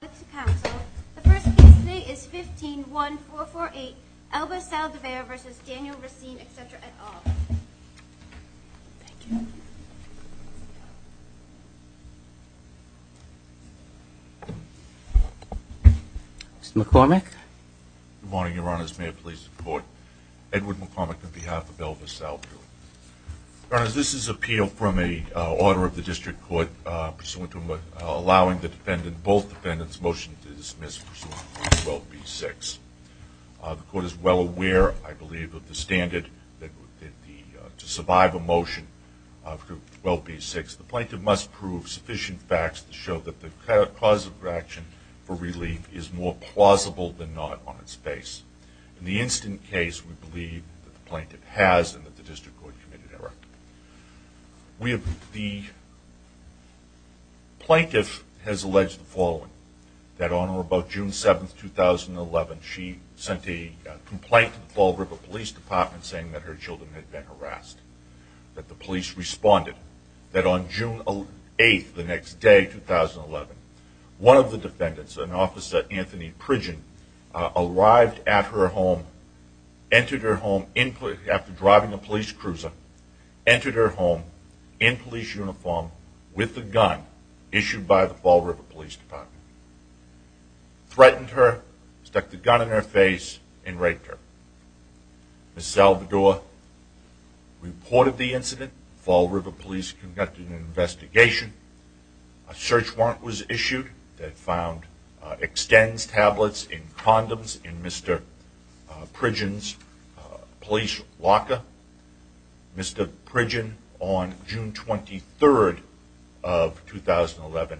The first case today is 15-1-448, Elvis Saldivar v. Daniel Racine, etc. et al. Mr. McCormick. Good morning, Your Honors. May it please the Court? Edward McCormick on behalf of Elvis Saldivar. Your Honors, this is an appeal from an order of the District Court pursuant to allowing both defendants' motions to dismiss pursuant to 12b-6. The Court is well aware, I believe, of the standard to survive a motion to 12b-6. The plaintiff must prove sufficient facts to show that the cause of action for relief is more plausible than not on its face. In the instant case, we believe that the plaintiff has and that the District Court committed error. The plaintiff has alleged the following, that on or about June 7, 2011, she sent a complaint to the Fall River Police Department saying that her children had been harassed. The police responded that on June 8, the next day, 2011, one of the defendants, an officer, Anthony Pridgen, arrived at her home, entered her home after driving a police cruiser, entered her home in police uniform with a gun issued by the Fall River Police Department, threatened her, stuck the gun in her face, and raped her. Ms. Salvador reported the incident. Fall River Police conducted an investigation. A search warrant was issued that found extensed tablets in condoms in Mr. Pridgen's police locker. Mr. Pridgen, on June 23, 2011,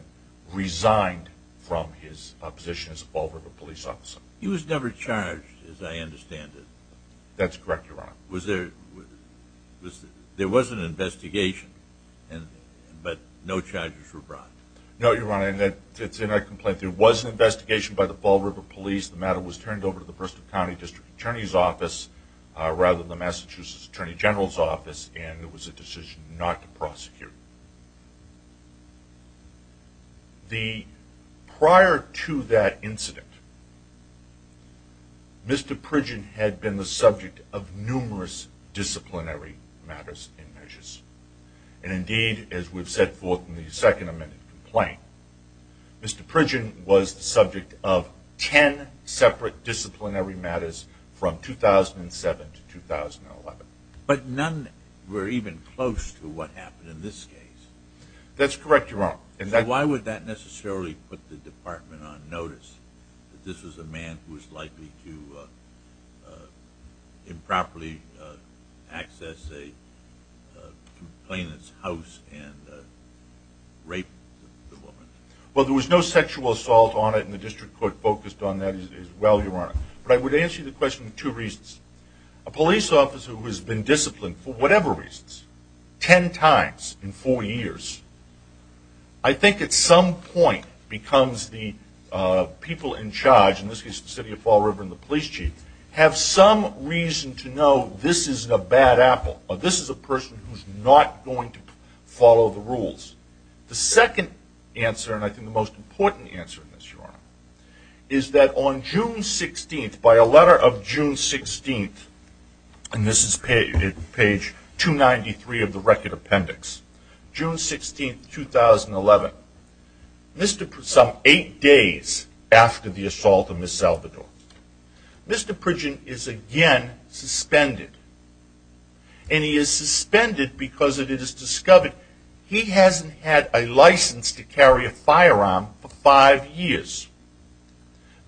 resigned from his position as a Fall River Police officer. He was never charged, as I understand it. That's correct, Your Honor. There was an investigation, but no charges were brought. No, Your Honor, it's in a complaint. There was an investigation by the Fall River Police. The matter was turned over to the Bristol County District Attorney's Office, rather than the Massachusetts Attorney General's Office, and it was a decision not to prosecute. Prior to that incident, Mr. Pridgen had been the subject of numerous disciplinary matters and measures. And indeed, as we've set forth in the second amended complaint, Mr. Pridgen was the subject of ten separate disciplinary matters from 2007 to 2011. But none were even close to what happened in this case. That's correct, Your Honor. Why would that necessarily put the department on notice that this was a man who was likely to improperly access a complainant's house and rape the woman? Well, there was no sexual assault on it, and the district court focused on that as well, Your Honor. But I would answer the question for two reasons. A police officer who has been disciplined for whatever reasons, ten times in four years, I think at some point becomes the people in charge, in this case the city of Fall River and the police chief, have some reason to know this is a bad apple, or this is a person who's not going to follow the rules. The second answer, and I think the most important answer, is that on June 16th, by a letter of June 16th, and this is page 293 of the record appendix, June 16th, 2011, some eight days after the assault on Ms. Salvador, Mr. Pridgen is again suspended. And he is suspended because it is discovered he hasn't had a license to carry a firearm for five years.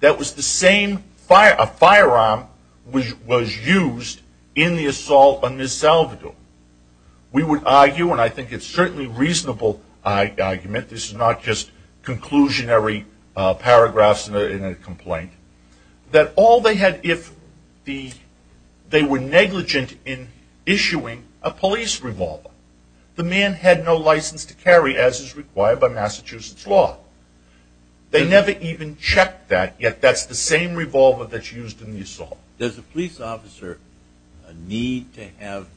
That was the same firearm which was used in the assault on Ms. Salvador. We would argue, and I think it's certainly a reasonable argument, this is not just conclusionary paragraphs in a complaint, that all they had, if they were negligent in issuing a police revolver, the man had no license to carry, as is required by Massachusetts law. They never even checked that, yet that's the same revolver that's used in the assault. Now, does a police officer need to have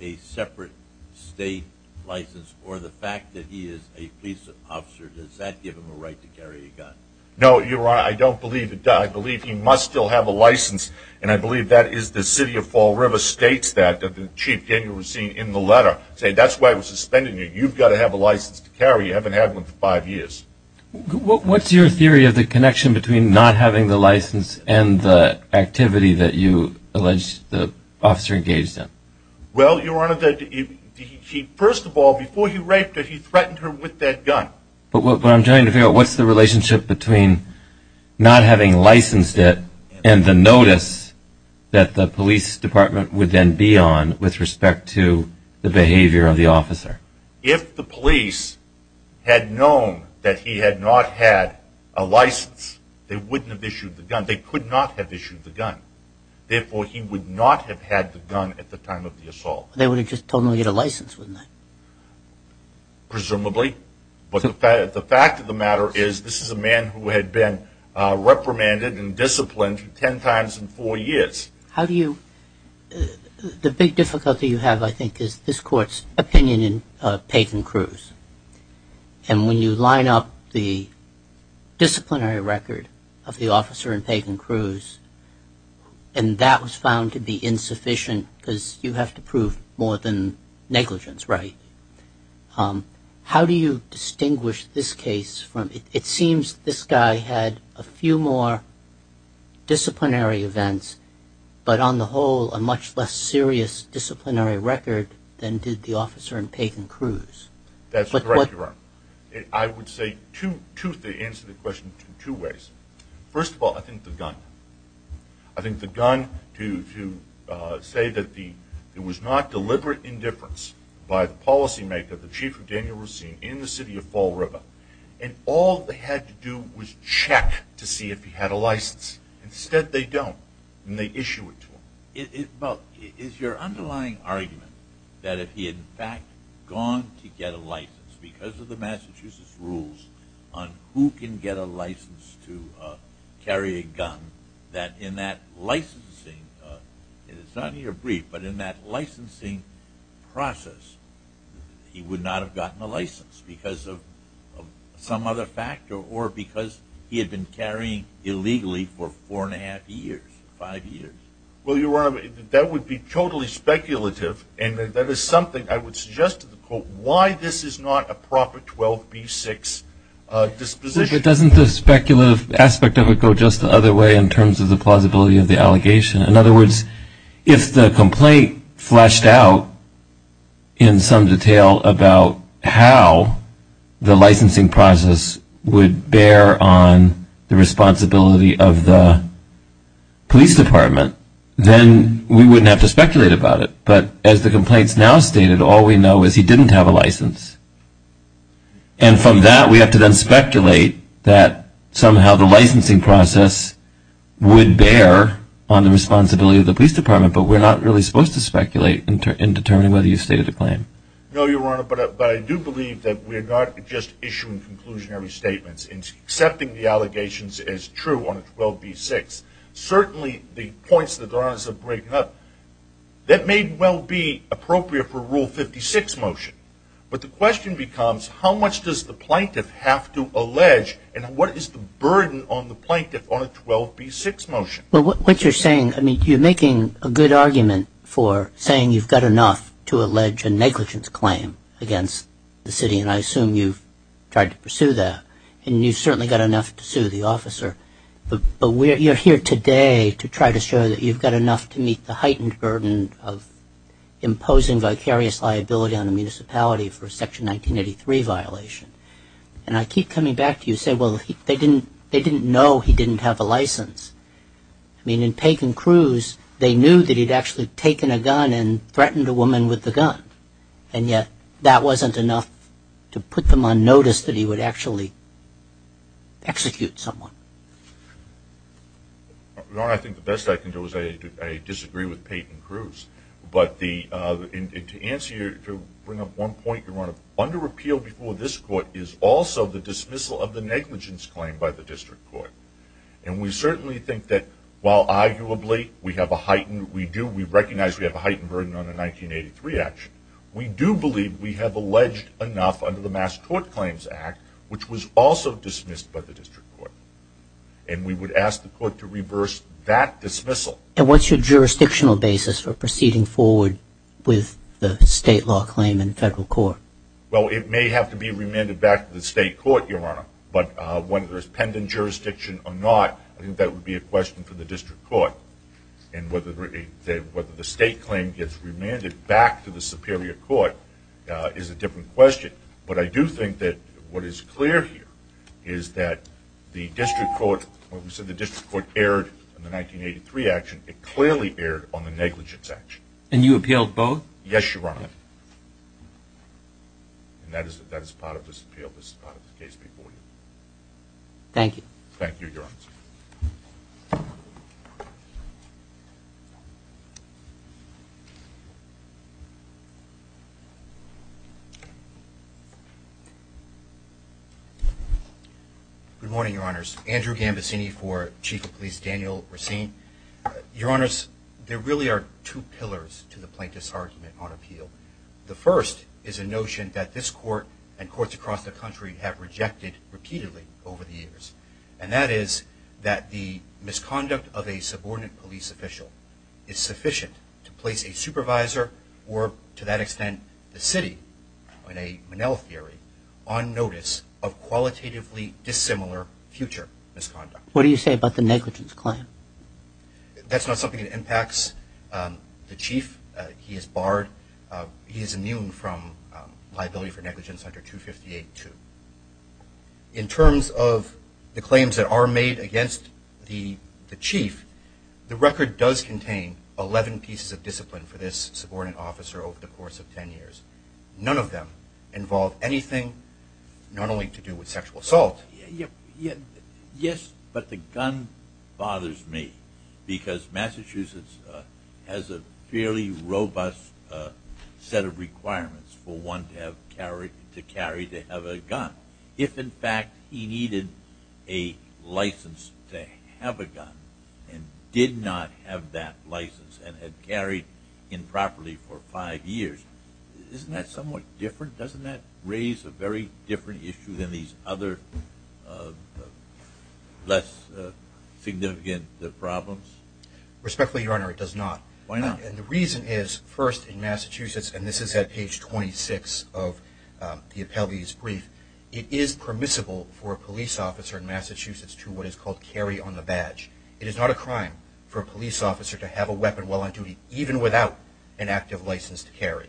a separate state license, or the fact that he is a police officer, does that give him a right to carry a gun? No, Your Honor, I don't believe it does. I believe he must still have a license, and I believe that is the city of Fall River states that, that the chief, Daniel Racine, in the letter said, that's why I'm suspending you. You've got to have a license to carry. You haven't had one for five years. What's your theory of the connection between not having the license and the activity that you allege the officer engaged in? Well, Your Honor, first of all, before he raped her, he threatened her with that gun. But what I'm trying to figure out, what's the relationship between not having licensed it and the notice that the police department would then be on with respect to the behavior of the officer? If the police had known that he had not had a license, they wouldn't have issued the gun. They could not have issued the gun. Therefore, he would not have had the gun at the time of the assault. They would have just told him he had a license, wouldn't they? Presumably. But the fact of the matter is, this is a man who had been reprimanded and disciplined ten times in four years. The big difficulty you have, I think, is this Court's opinion in Pagan-Cruz. And when you line up the disciplinary record of the officer in Pagan-Cruz, and that was found to be insufficient because you have to prove more than negligence, right? How do you distinguish this case? It seems this guy had a few more disciplinary events, but on the whole, a much less serious disciplinary record than did the officer in Pagan-Cruz. That's correct, Your Honor. I would say to answer the question in two ways. First of all, I think the gun. I think the gun to say that there was not deliberate indifference by the policymaker, the chief of Daniel Racine, in the city of Fall River, and all they had to do was check to see if he had a license. Instead, they don't, and they issue it to him. Is your underlying argument that if he had in fact gone to get a license because of the Massachusetts rules on who can get a license to carry a gun, that in that licensing process, he would not have gotten a license because of some other factor or because he had been carrying illegally for four and a half years? Five years? Well, Your Honor, that would be totally speculative, and that is something I would suggest to the court, why this is not a proper 12B6 disposition. But doesn't the speculative aspect of it go just the other way in terms of the plausibility of the allegation? In other words, if the complaint fleshed out in some detail about how the licensing process would bear on the responsibility of the police department, then we wouldn't have to speculate about it. But as the complaint's now stated, all we know is he didn't have a license. And from that, we have to then speculate that somehow the licensing process would bear on the responsibility of the police department, but we're not really supposed to speculate in determining whether you've stated a claim. No, Your Honor, but I do believe that we're not just issuing conclusionary statements and accepting the allegations as true on 12B6. Certainly, the points that Your Honor's are breaking up, that may well be appropriate for Rule 56 motion. But the question becomes, how much does the plaintiff have to allege, and what is the burden on the plaintiff on a 12B6 motion? Well, what you're saying, I mean, you're making a good argument for saying you've got enough to allege a negligence claim against the city, and I assume you've tried to pursue that, and you've certainly got enough to sue the officer. But you're here today to try to show that you've got enough to meet the heightened burden of imposing vicarious liability on a municipality for a Section 1983 violation. And I keep coming back to you saying, well, they didn't know he didn't have a license. I mean, in Pagan Cruz, they knew that he'd actually taken a gun and threatened a woman with the gun, and yet that wasn't enough to put them on notice that he would actually execute someone. Your Honor, I think the best I can do is I disagree with Pagan Cruz. But to answer your – to bring up one point, Your Honor, under appeal before this Court is also the dismissal of the negligence claim by the district court. And we certainly think that while arguably we have a heightened – we do, we recognize we have a heightened burden on a 1983 action, we do believe we have alleged enough under the Mass Court Claims Act, which was also dismissed by the district court. And we would ask the court to reverse that dismissal. And what's your jurisdictional basis for proceeding forward with the state law claim in federal court? Well, it may have to be remanded back to the state court, Your Honor. But whether there's pendant jurisdiction or not, I think that would be a question for the district court. And whether the state claim gets remanded back to the superior court is a different question. But I do think that what is clear here is that the district court – when we said the district court erred on the 1983 action, it clearly erred on the negligence action. And you appealed both? Yes, Your Honor. And that is part of this appeal. This is part of the case before you. Thank you. Thank you, Your Honor. Good morning, Your Honors. Andrew Gambaccini for Chief of Police Daniel Racine. Your Honors, there really are two pillars to the plaintiff's argument on appeal. The first is a notion that this court and courts across the country have rejected repeatedly over the years. And that is that the misconduct of a subordinate police official is sufficient to place a supervisor or, to that extent, the city, in a Minnell theory, on notice of qualitatively dissimilar future misconduct. What do you say about the negligence claim? That's not something that impacts the chief. He is barred – he is immune from liability for negligence under 258-2. In terms of the claims that are made against the chief, the record does contain 11 pieces of discipline for this subordinate officer over the course of 10 years. None of them involve anything not only to do with sexual assault. Yes, but the gun bothers me because Massachusetts has a fairly robust set of requirements for one to carry to have a gun. If, in fact, he needed a license to have a gun and did not have that license and had carried improperly for five years, isn't that somewhat different? Doesn't that raise a very different issue than these other less significant problems? Respectfully, Your Honor, it does not. The reason is, first, in Massachusetts – and this is at page 26 of the appellee's brief – it is permissible for a police officer in Massachusetts to what is called carry on the badge. It is not a crime for a police officer to have a weapon while on duty, even without an active license to carry.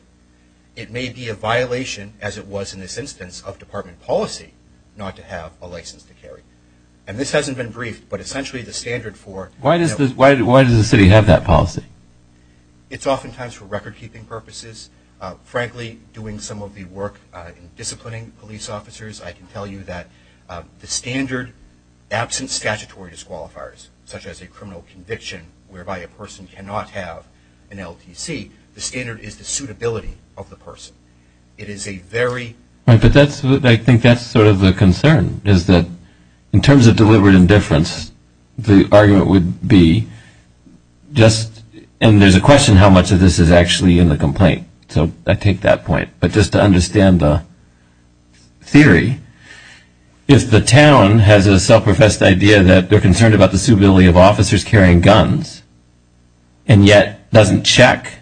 It may be a violation, as it was in this instance, of department policy not to have a license to carry. And this hasn't been briefed, but essentially the standard for – it's oftentimes for record-keeping purposes. Frankly, doing some of the work in disciplining police officers, I can tell you that the standard, absent statutory disqualifiers such as a criminal conviction whereby a person cannot have an LTC, the standard is the suitability of the person. It is a very – Right, but that's – I think that's sort of the concern, is that in terms of deliberate indifference, the argument would be just – and there's a question how much of this is actually in the complaint, so I take that point. But just to understand the theory, if the town has a self-professed idea that they're concerned about the suitability of officers carrying guns, and yet doesn't check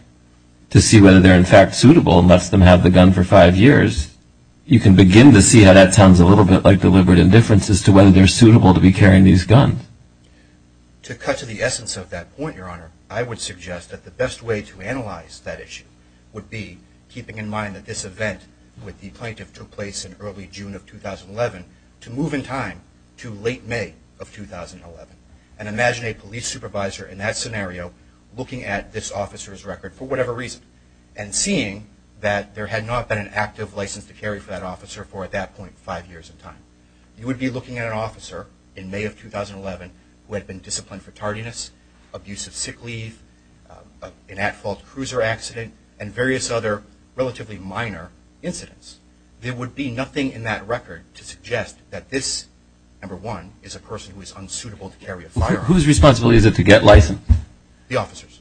to see whether they're in fact suitable and lets them have the gun for five years, you can begin to see how that sounds a little bit like deliberate indifference as to whether they're suitable to be carrying these guns. To cut to the essence of that point, Your Honor, I would suggest that the best way to analyze that issue would be keeping in mind that this event with the plaintiff took place in early June of 2011 to move in time to late May of 2011. And imagine a police supervisor in that scenario looking at this officer's record for whatever reason and seeing that there had not been an active license to carry for that officer for at that point five years in time. You would be looking at an officer in May of 2011 who had been disciplined for tardiness, abusive sick leave, an at-fault cruiser accident, and various other relatively minor incidents. There would be nothing in that record to suggest that this, number one, is a person who is unsuitable to carry a firearm. Whose responsibility is it to get licensed? The officer's.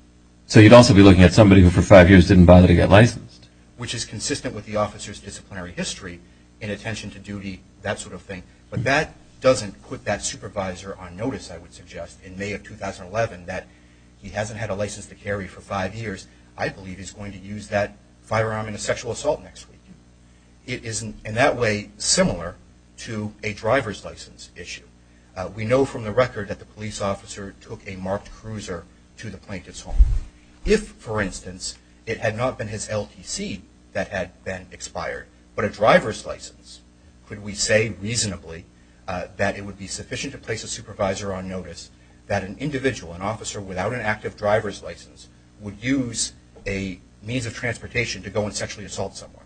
So you'd also be looking at somebody who for five years didn't bother to get licensed. Which is consistent with the officer's disciplinary history, inattention to duty, that sort of thing. But that doesn't put that supervisor on notice, I would suggest, in May of 2011, that he hasn't had a license to carry for five years. I believe he's going to use that firearm in a sexual assault next week. It is in that way similar to a driver's license issue. We know from the record that the police officer took a marked cruiser to the plaintiff's home. If, for instance, it had not been his LTC that had been expired, but a driver's license, could we say reasonably that it would be sufficient to place a supervisor on notice that an individual, an officer without an active driver's license, would use a means of transportation to go and sexually assault someone?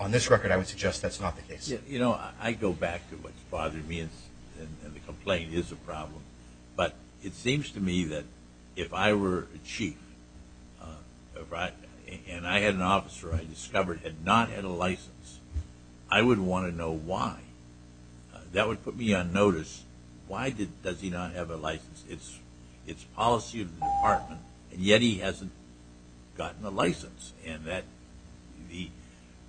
On this record, I would suggest that's not the case. You know, I go back to what's bothered me, and the complaint is a problem. But it seems to me that if I were a chief, and I had an officer I discovered had not had a license, I would want to know why. That would put me on notice, why does he not have a license? It's policy of the department, and yet he hasn't gotten a license. The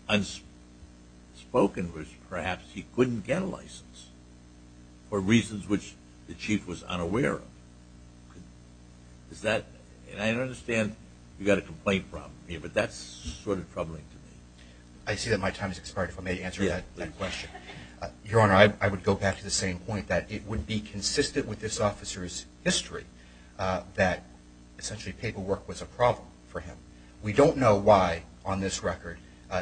unspoken was perhaps he couldn't get a license for reasons which the chief was unaware of. I understand you've got a complaint problem, but that's sort of troubling to me. I see that my time has expired, if I may answer that question. Your Honor, I would go back to the same point, that it would be consistent with this officer's history that essentially paperwork was a problem for him. We don't know why, on this record,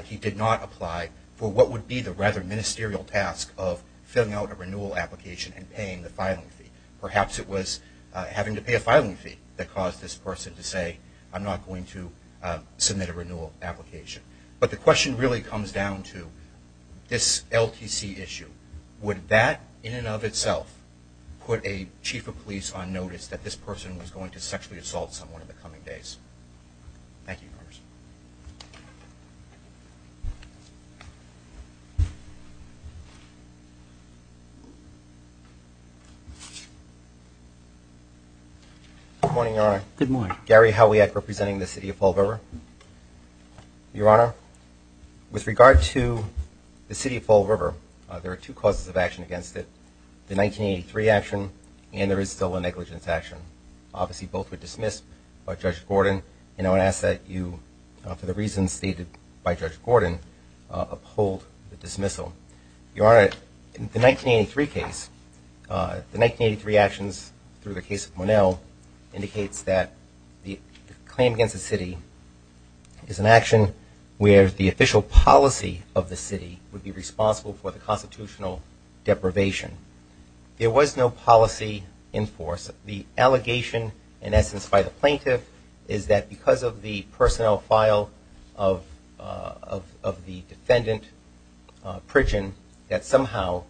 he did not apply for what would be the rather ministerial task of filling out a renewal application and paying the filing fee. Perhaps it was having to pay a filing fee that caused this person to say, I'm not going to submit a renewal application. But the question really comes down to this LTC issue. Would that, in and of itself, put a chief of police on notice that this person was going to sexually assault someone in the coming days? Thank you, Your Honor. Good morning, Your Honor. Good morning. Gary Howiak, representing the City of Fall River. Your Honor, with regard to the City of Fall River, there are two causes of action against it, the 1983 action and there is still a negligence action. Obviously, both were dismissed by Judge Gordon, and I would ask that you, for the reasons stated by Judge Gordon, uphold the dismissal. Your Honor, in the 1983 case, the 1983 actions, through the case of Monell, indicates that the claim against the city is an action where the official policy of the city would be responsible for the constitutional deprivation. There was no policy in force. The allegation, in essence, by the plaintiff, is that because of the personnel file of the defendant, Pritchett, that somehow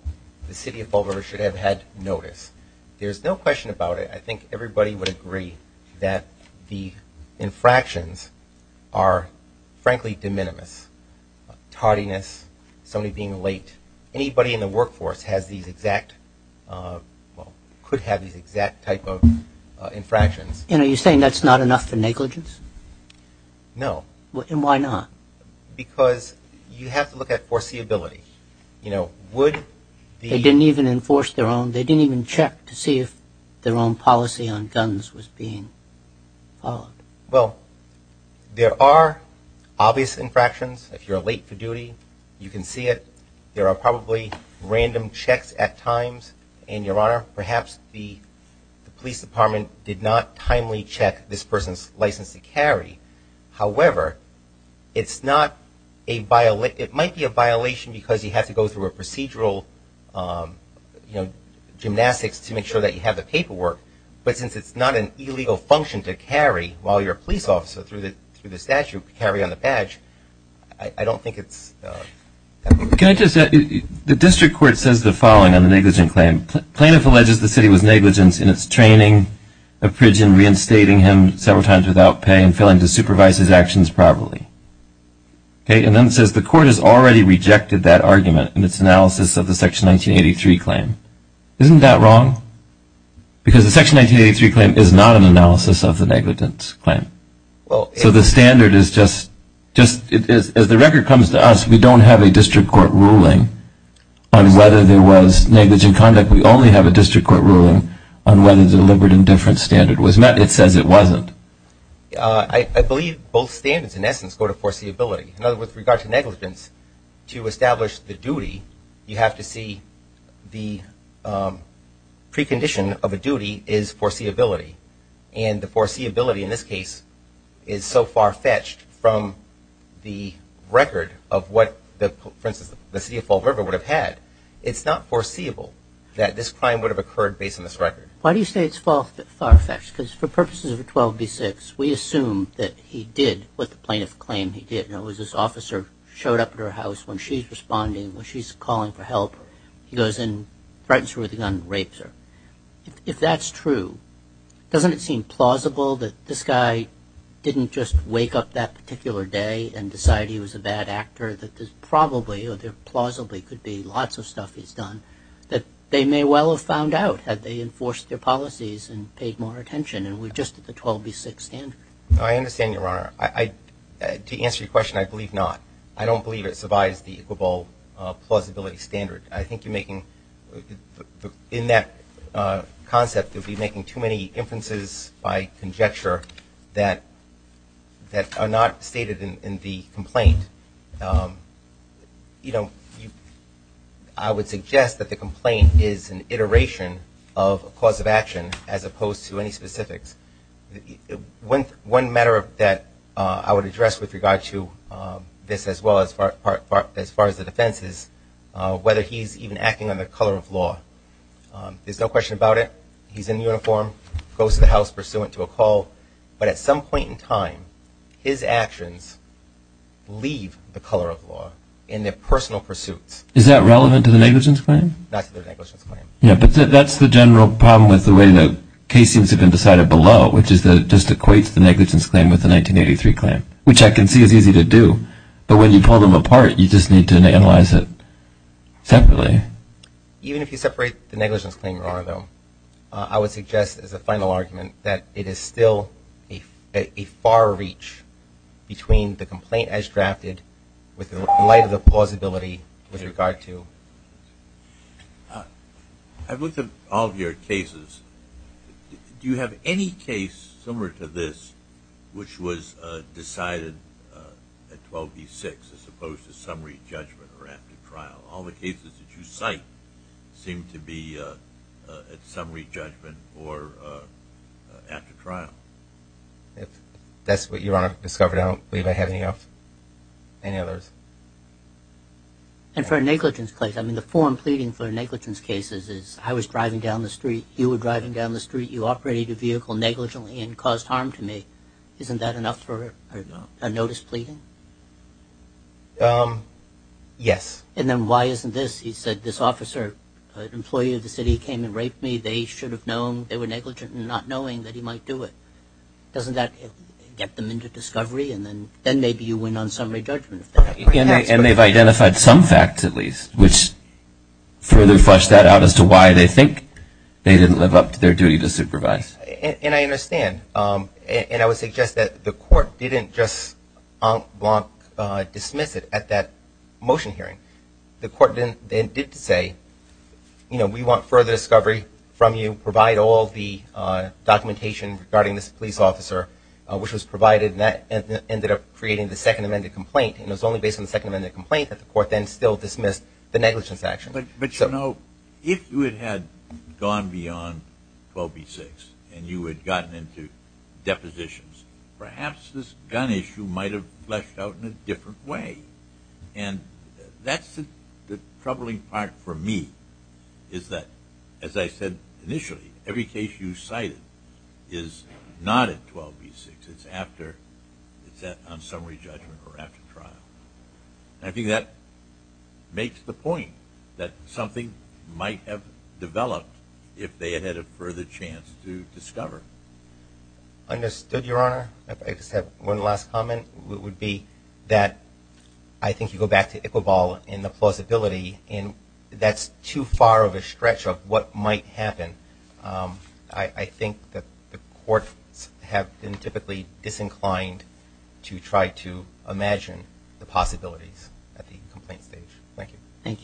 the City of Fall River should have had notice. There's no question about it. I think everybody would agree that the infractions are, frankly, de minimis. Tardiness, somebody being late. Anybody in the workforce has these exact, well, could have these exact type of infractions. And are you saying that's not enough for negligence? No. And why not? Because you have to look at foreseeability. You know, would the- They didn't even enforce their own. They didn't even check to see if their own policy on guns was being followed. Well, there are obvious infractions. If you're late for duty, you can see it. There are probably random checks at times. And, Your Honor, perhaps the police department did not timely check this person's license to carry. However, it's not a-it might be a violation because you have to go through a procedural, you know, gymnastics to make sure that you have the paperwork. But since it's not an illegal function to carry while you're a police officer through the statute, carry on the badge, I don't think it's- Can I just-the district court says the following on the negligent claim. Plaintiff alleges the city was negligent in its training of Pritchett, and reinstating him several times without pay and failing to supervise his actions properly. Okay. And then it says the court has already rejected that argument in its analysis of the Section 1983 claim. Isn't that wrong? Because the Section 1983 claim is not an analysis of the negligence claim. So the standard is just-as the record comes to us, we don't have a district court ruling on whether there was negligent conduct. It says we only have a district court ruling on whether deliberate indifference standard was met. It says it wasn't. I believe both standards, in essence, go to foreseeability. In other words, with regard to negligence, to establish the duty, you have to see the precondition of a duty is foreseeability. And the foreseeability in this case is so far-fetched from the record of what, for instance, the city of Fall River would have had. It's not foreseeable that this crime would have occurred based on this record. Why do you say it's far-fetched? Because for purposes of 12b-6, we assume that he did what the plaintiff claimed he did, and it was this officer showed up at her house when she's responding, when she's calling for help. He goes in, threatens her with a gun, and rapes her. If that's true, doesn't it seem plausible that this guy didn't just wake up that particular day and decide he was a bad actor, that there's probably or there plausibly could be lots of stuff he's done, that they may well have found out had they enforced their policies and paid more attention and were just at the 12b-6 standard? I understand, Your Honor. To answer your question, I believe not. I don't believe it survives the equal plausibility standard. I think you're making, in that concept, you'll be making too many inferences by conjecture that are not stated in the complaint. You know, I would suggest that the complaint is an iteration of a cause of action as opposed to any specifics. One matter that I would address with regard to this as well as far as the defense is whether he's even acting under the color of law. There's no question about it. He's in uniform, goes to the house pursuant to a call. But at some point in time, his actions leave the color of law in their personal pursuits. Is that relevant to the negligence claim? Not to the negligence claim. Yeah, but that's the general problem with the way the case seems to have been decided below, which is that it just equates the negligence claim with the 1983 claim, which I can see is easy to do. But when you pull them apart, you just need to analyze it separately. Even if you separate the negligence claim, your Honor, though, I would suggest as a final argument that it is still a far reach between the complaint as drafted with the light of the plausibility with regard to. I've looked at all of your cases. Do you have any case similar to this which was decided at 12 v. 6 as opposed to summary judgment or after trial? All the cases that you cite seem to be at summary judgment or after trial. If that's what you, Your Honor, have discovered, I don't believe I have any others. And for a negligence claim, I mean, the form pleading for negligence cases is, I was driving down the street, you were driving down the street, you operated a vehicle negligently and caused harm to me. Isn't that enough for a notice pleading? Yes. And then why isn't this? He said this officer, an employee of the city, came and raped me. They should have known they were negligent and not knowing that he might do it. Doesn't that get them into discovery? And then maybe you win on summary judgment. And they've identified some facts, at least, which further flush that out as to why they think they didn't live up to their duty to supervise. And I understand. And I would suggest that the court didn't just en blanc dismiss it at that motion hearing. The court then did say, you know, we want further discovery from you, provide all the documentation regarding this police officer, which was provided, and that ended up creating the second amended complaint. And it was only based on the second amended complaint that the court then still dismissed the negligence action. But, you know, if you had gone beyond 12B6 and you had gotten into depositions, perhaps this gun issue might have fleshed out in a different way. And that's the troubling part for me is that, as I said initially, every case you cited is not at 12B6. It's on summary judgment or after trial. I think that makes the point that something might have developed if they had had a further chance to discover. Understood, Your Honor. I just have one last comment, which would be that I think you go back to Iqbal and the plausibility, and that's too far of a stretch of what might happen. I think that the courts have been typically disinclined to try to imagine the possibilities at the complaint stage. Thank you. Thank you.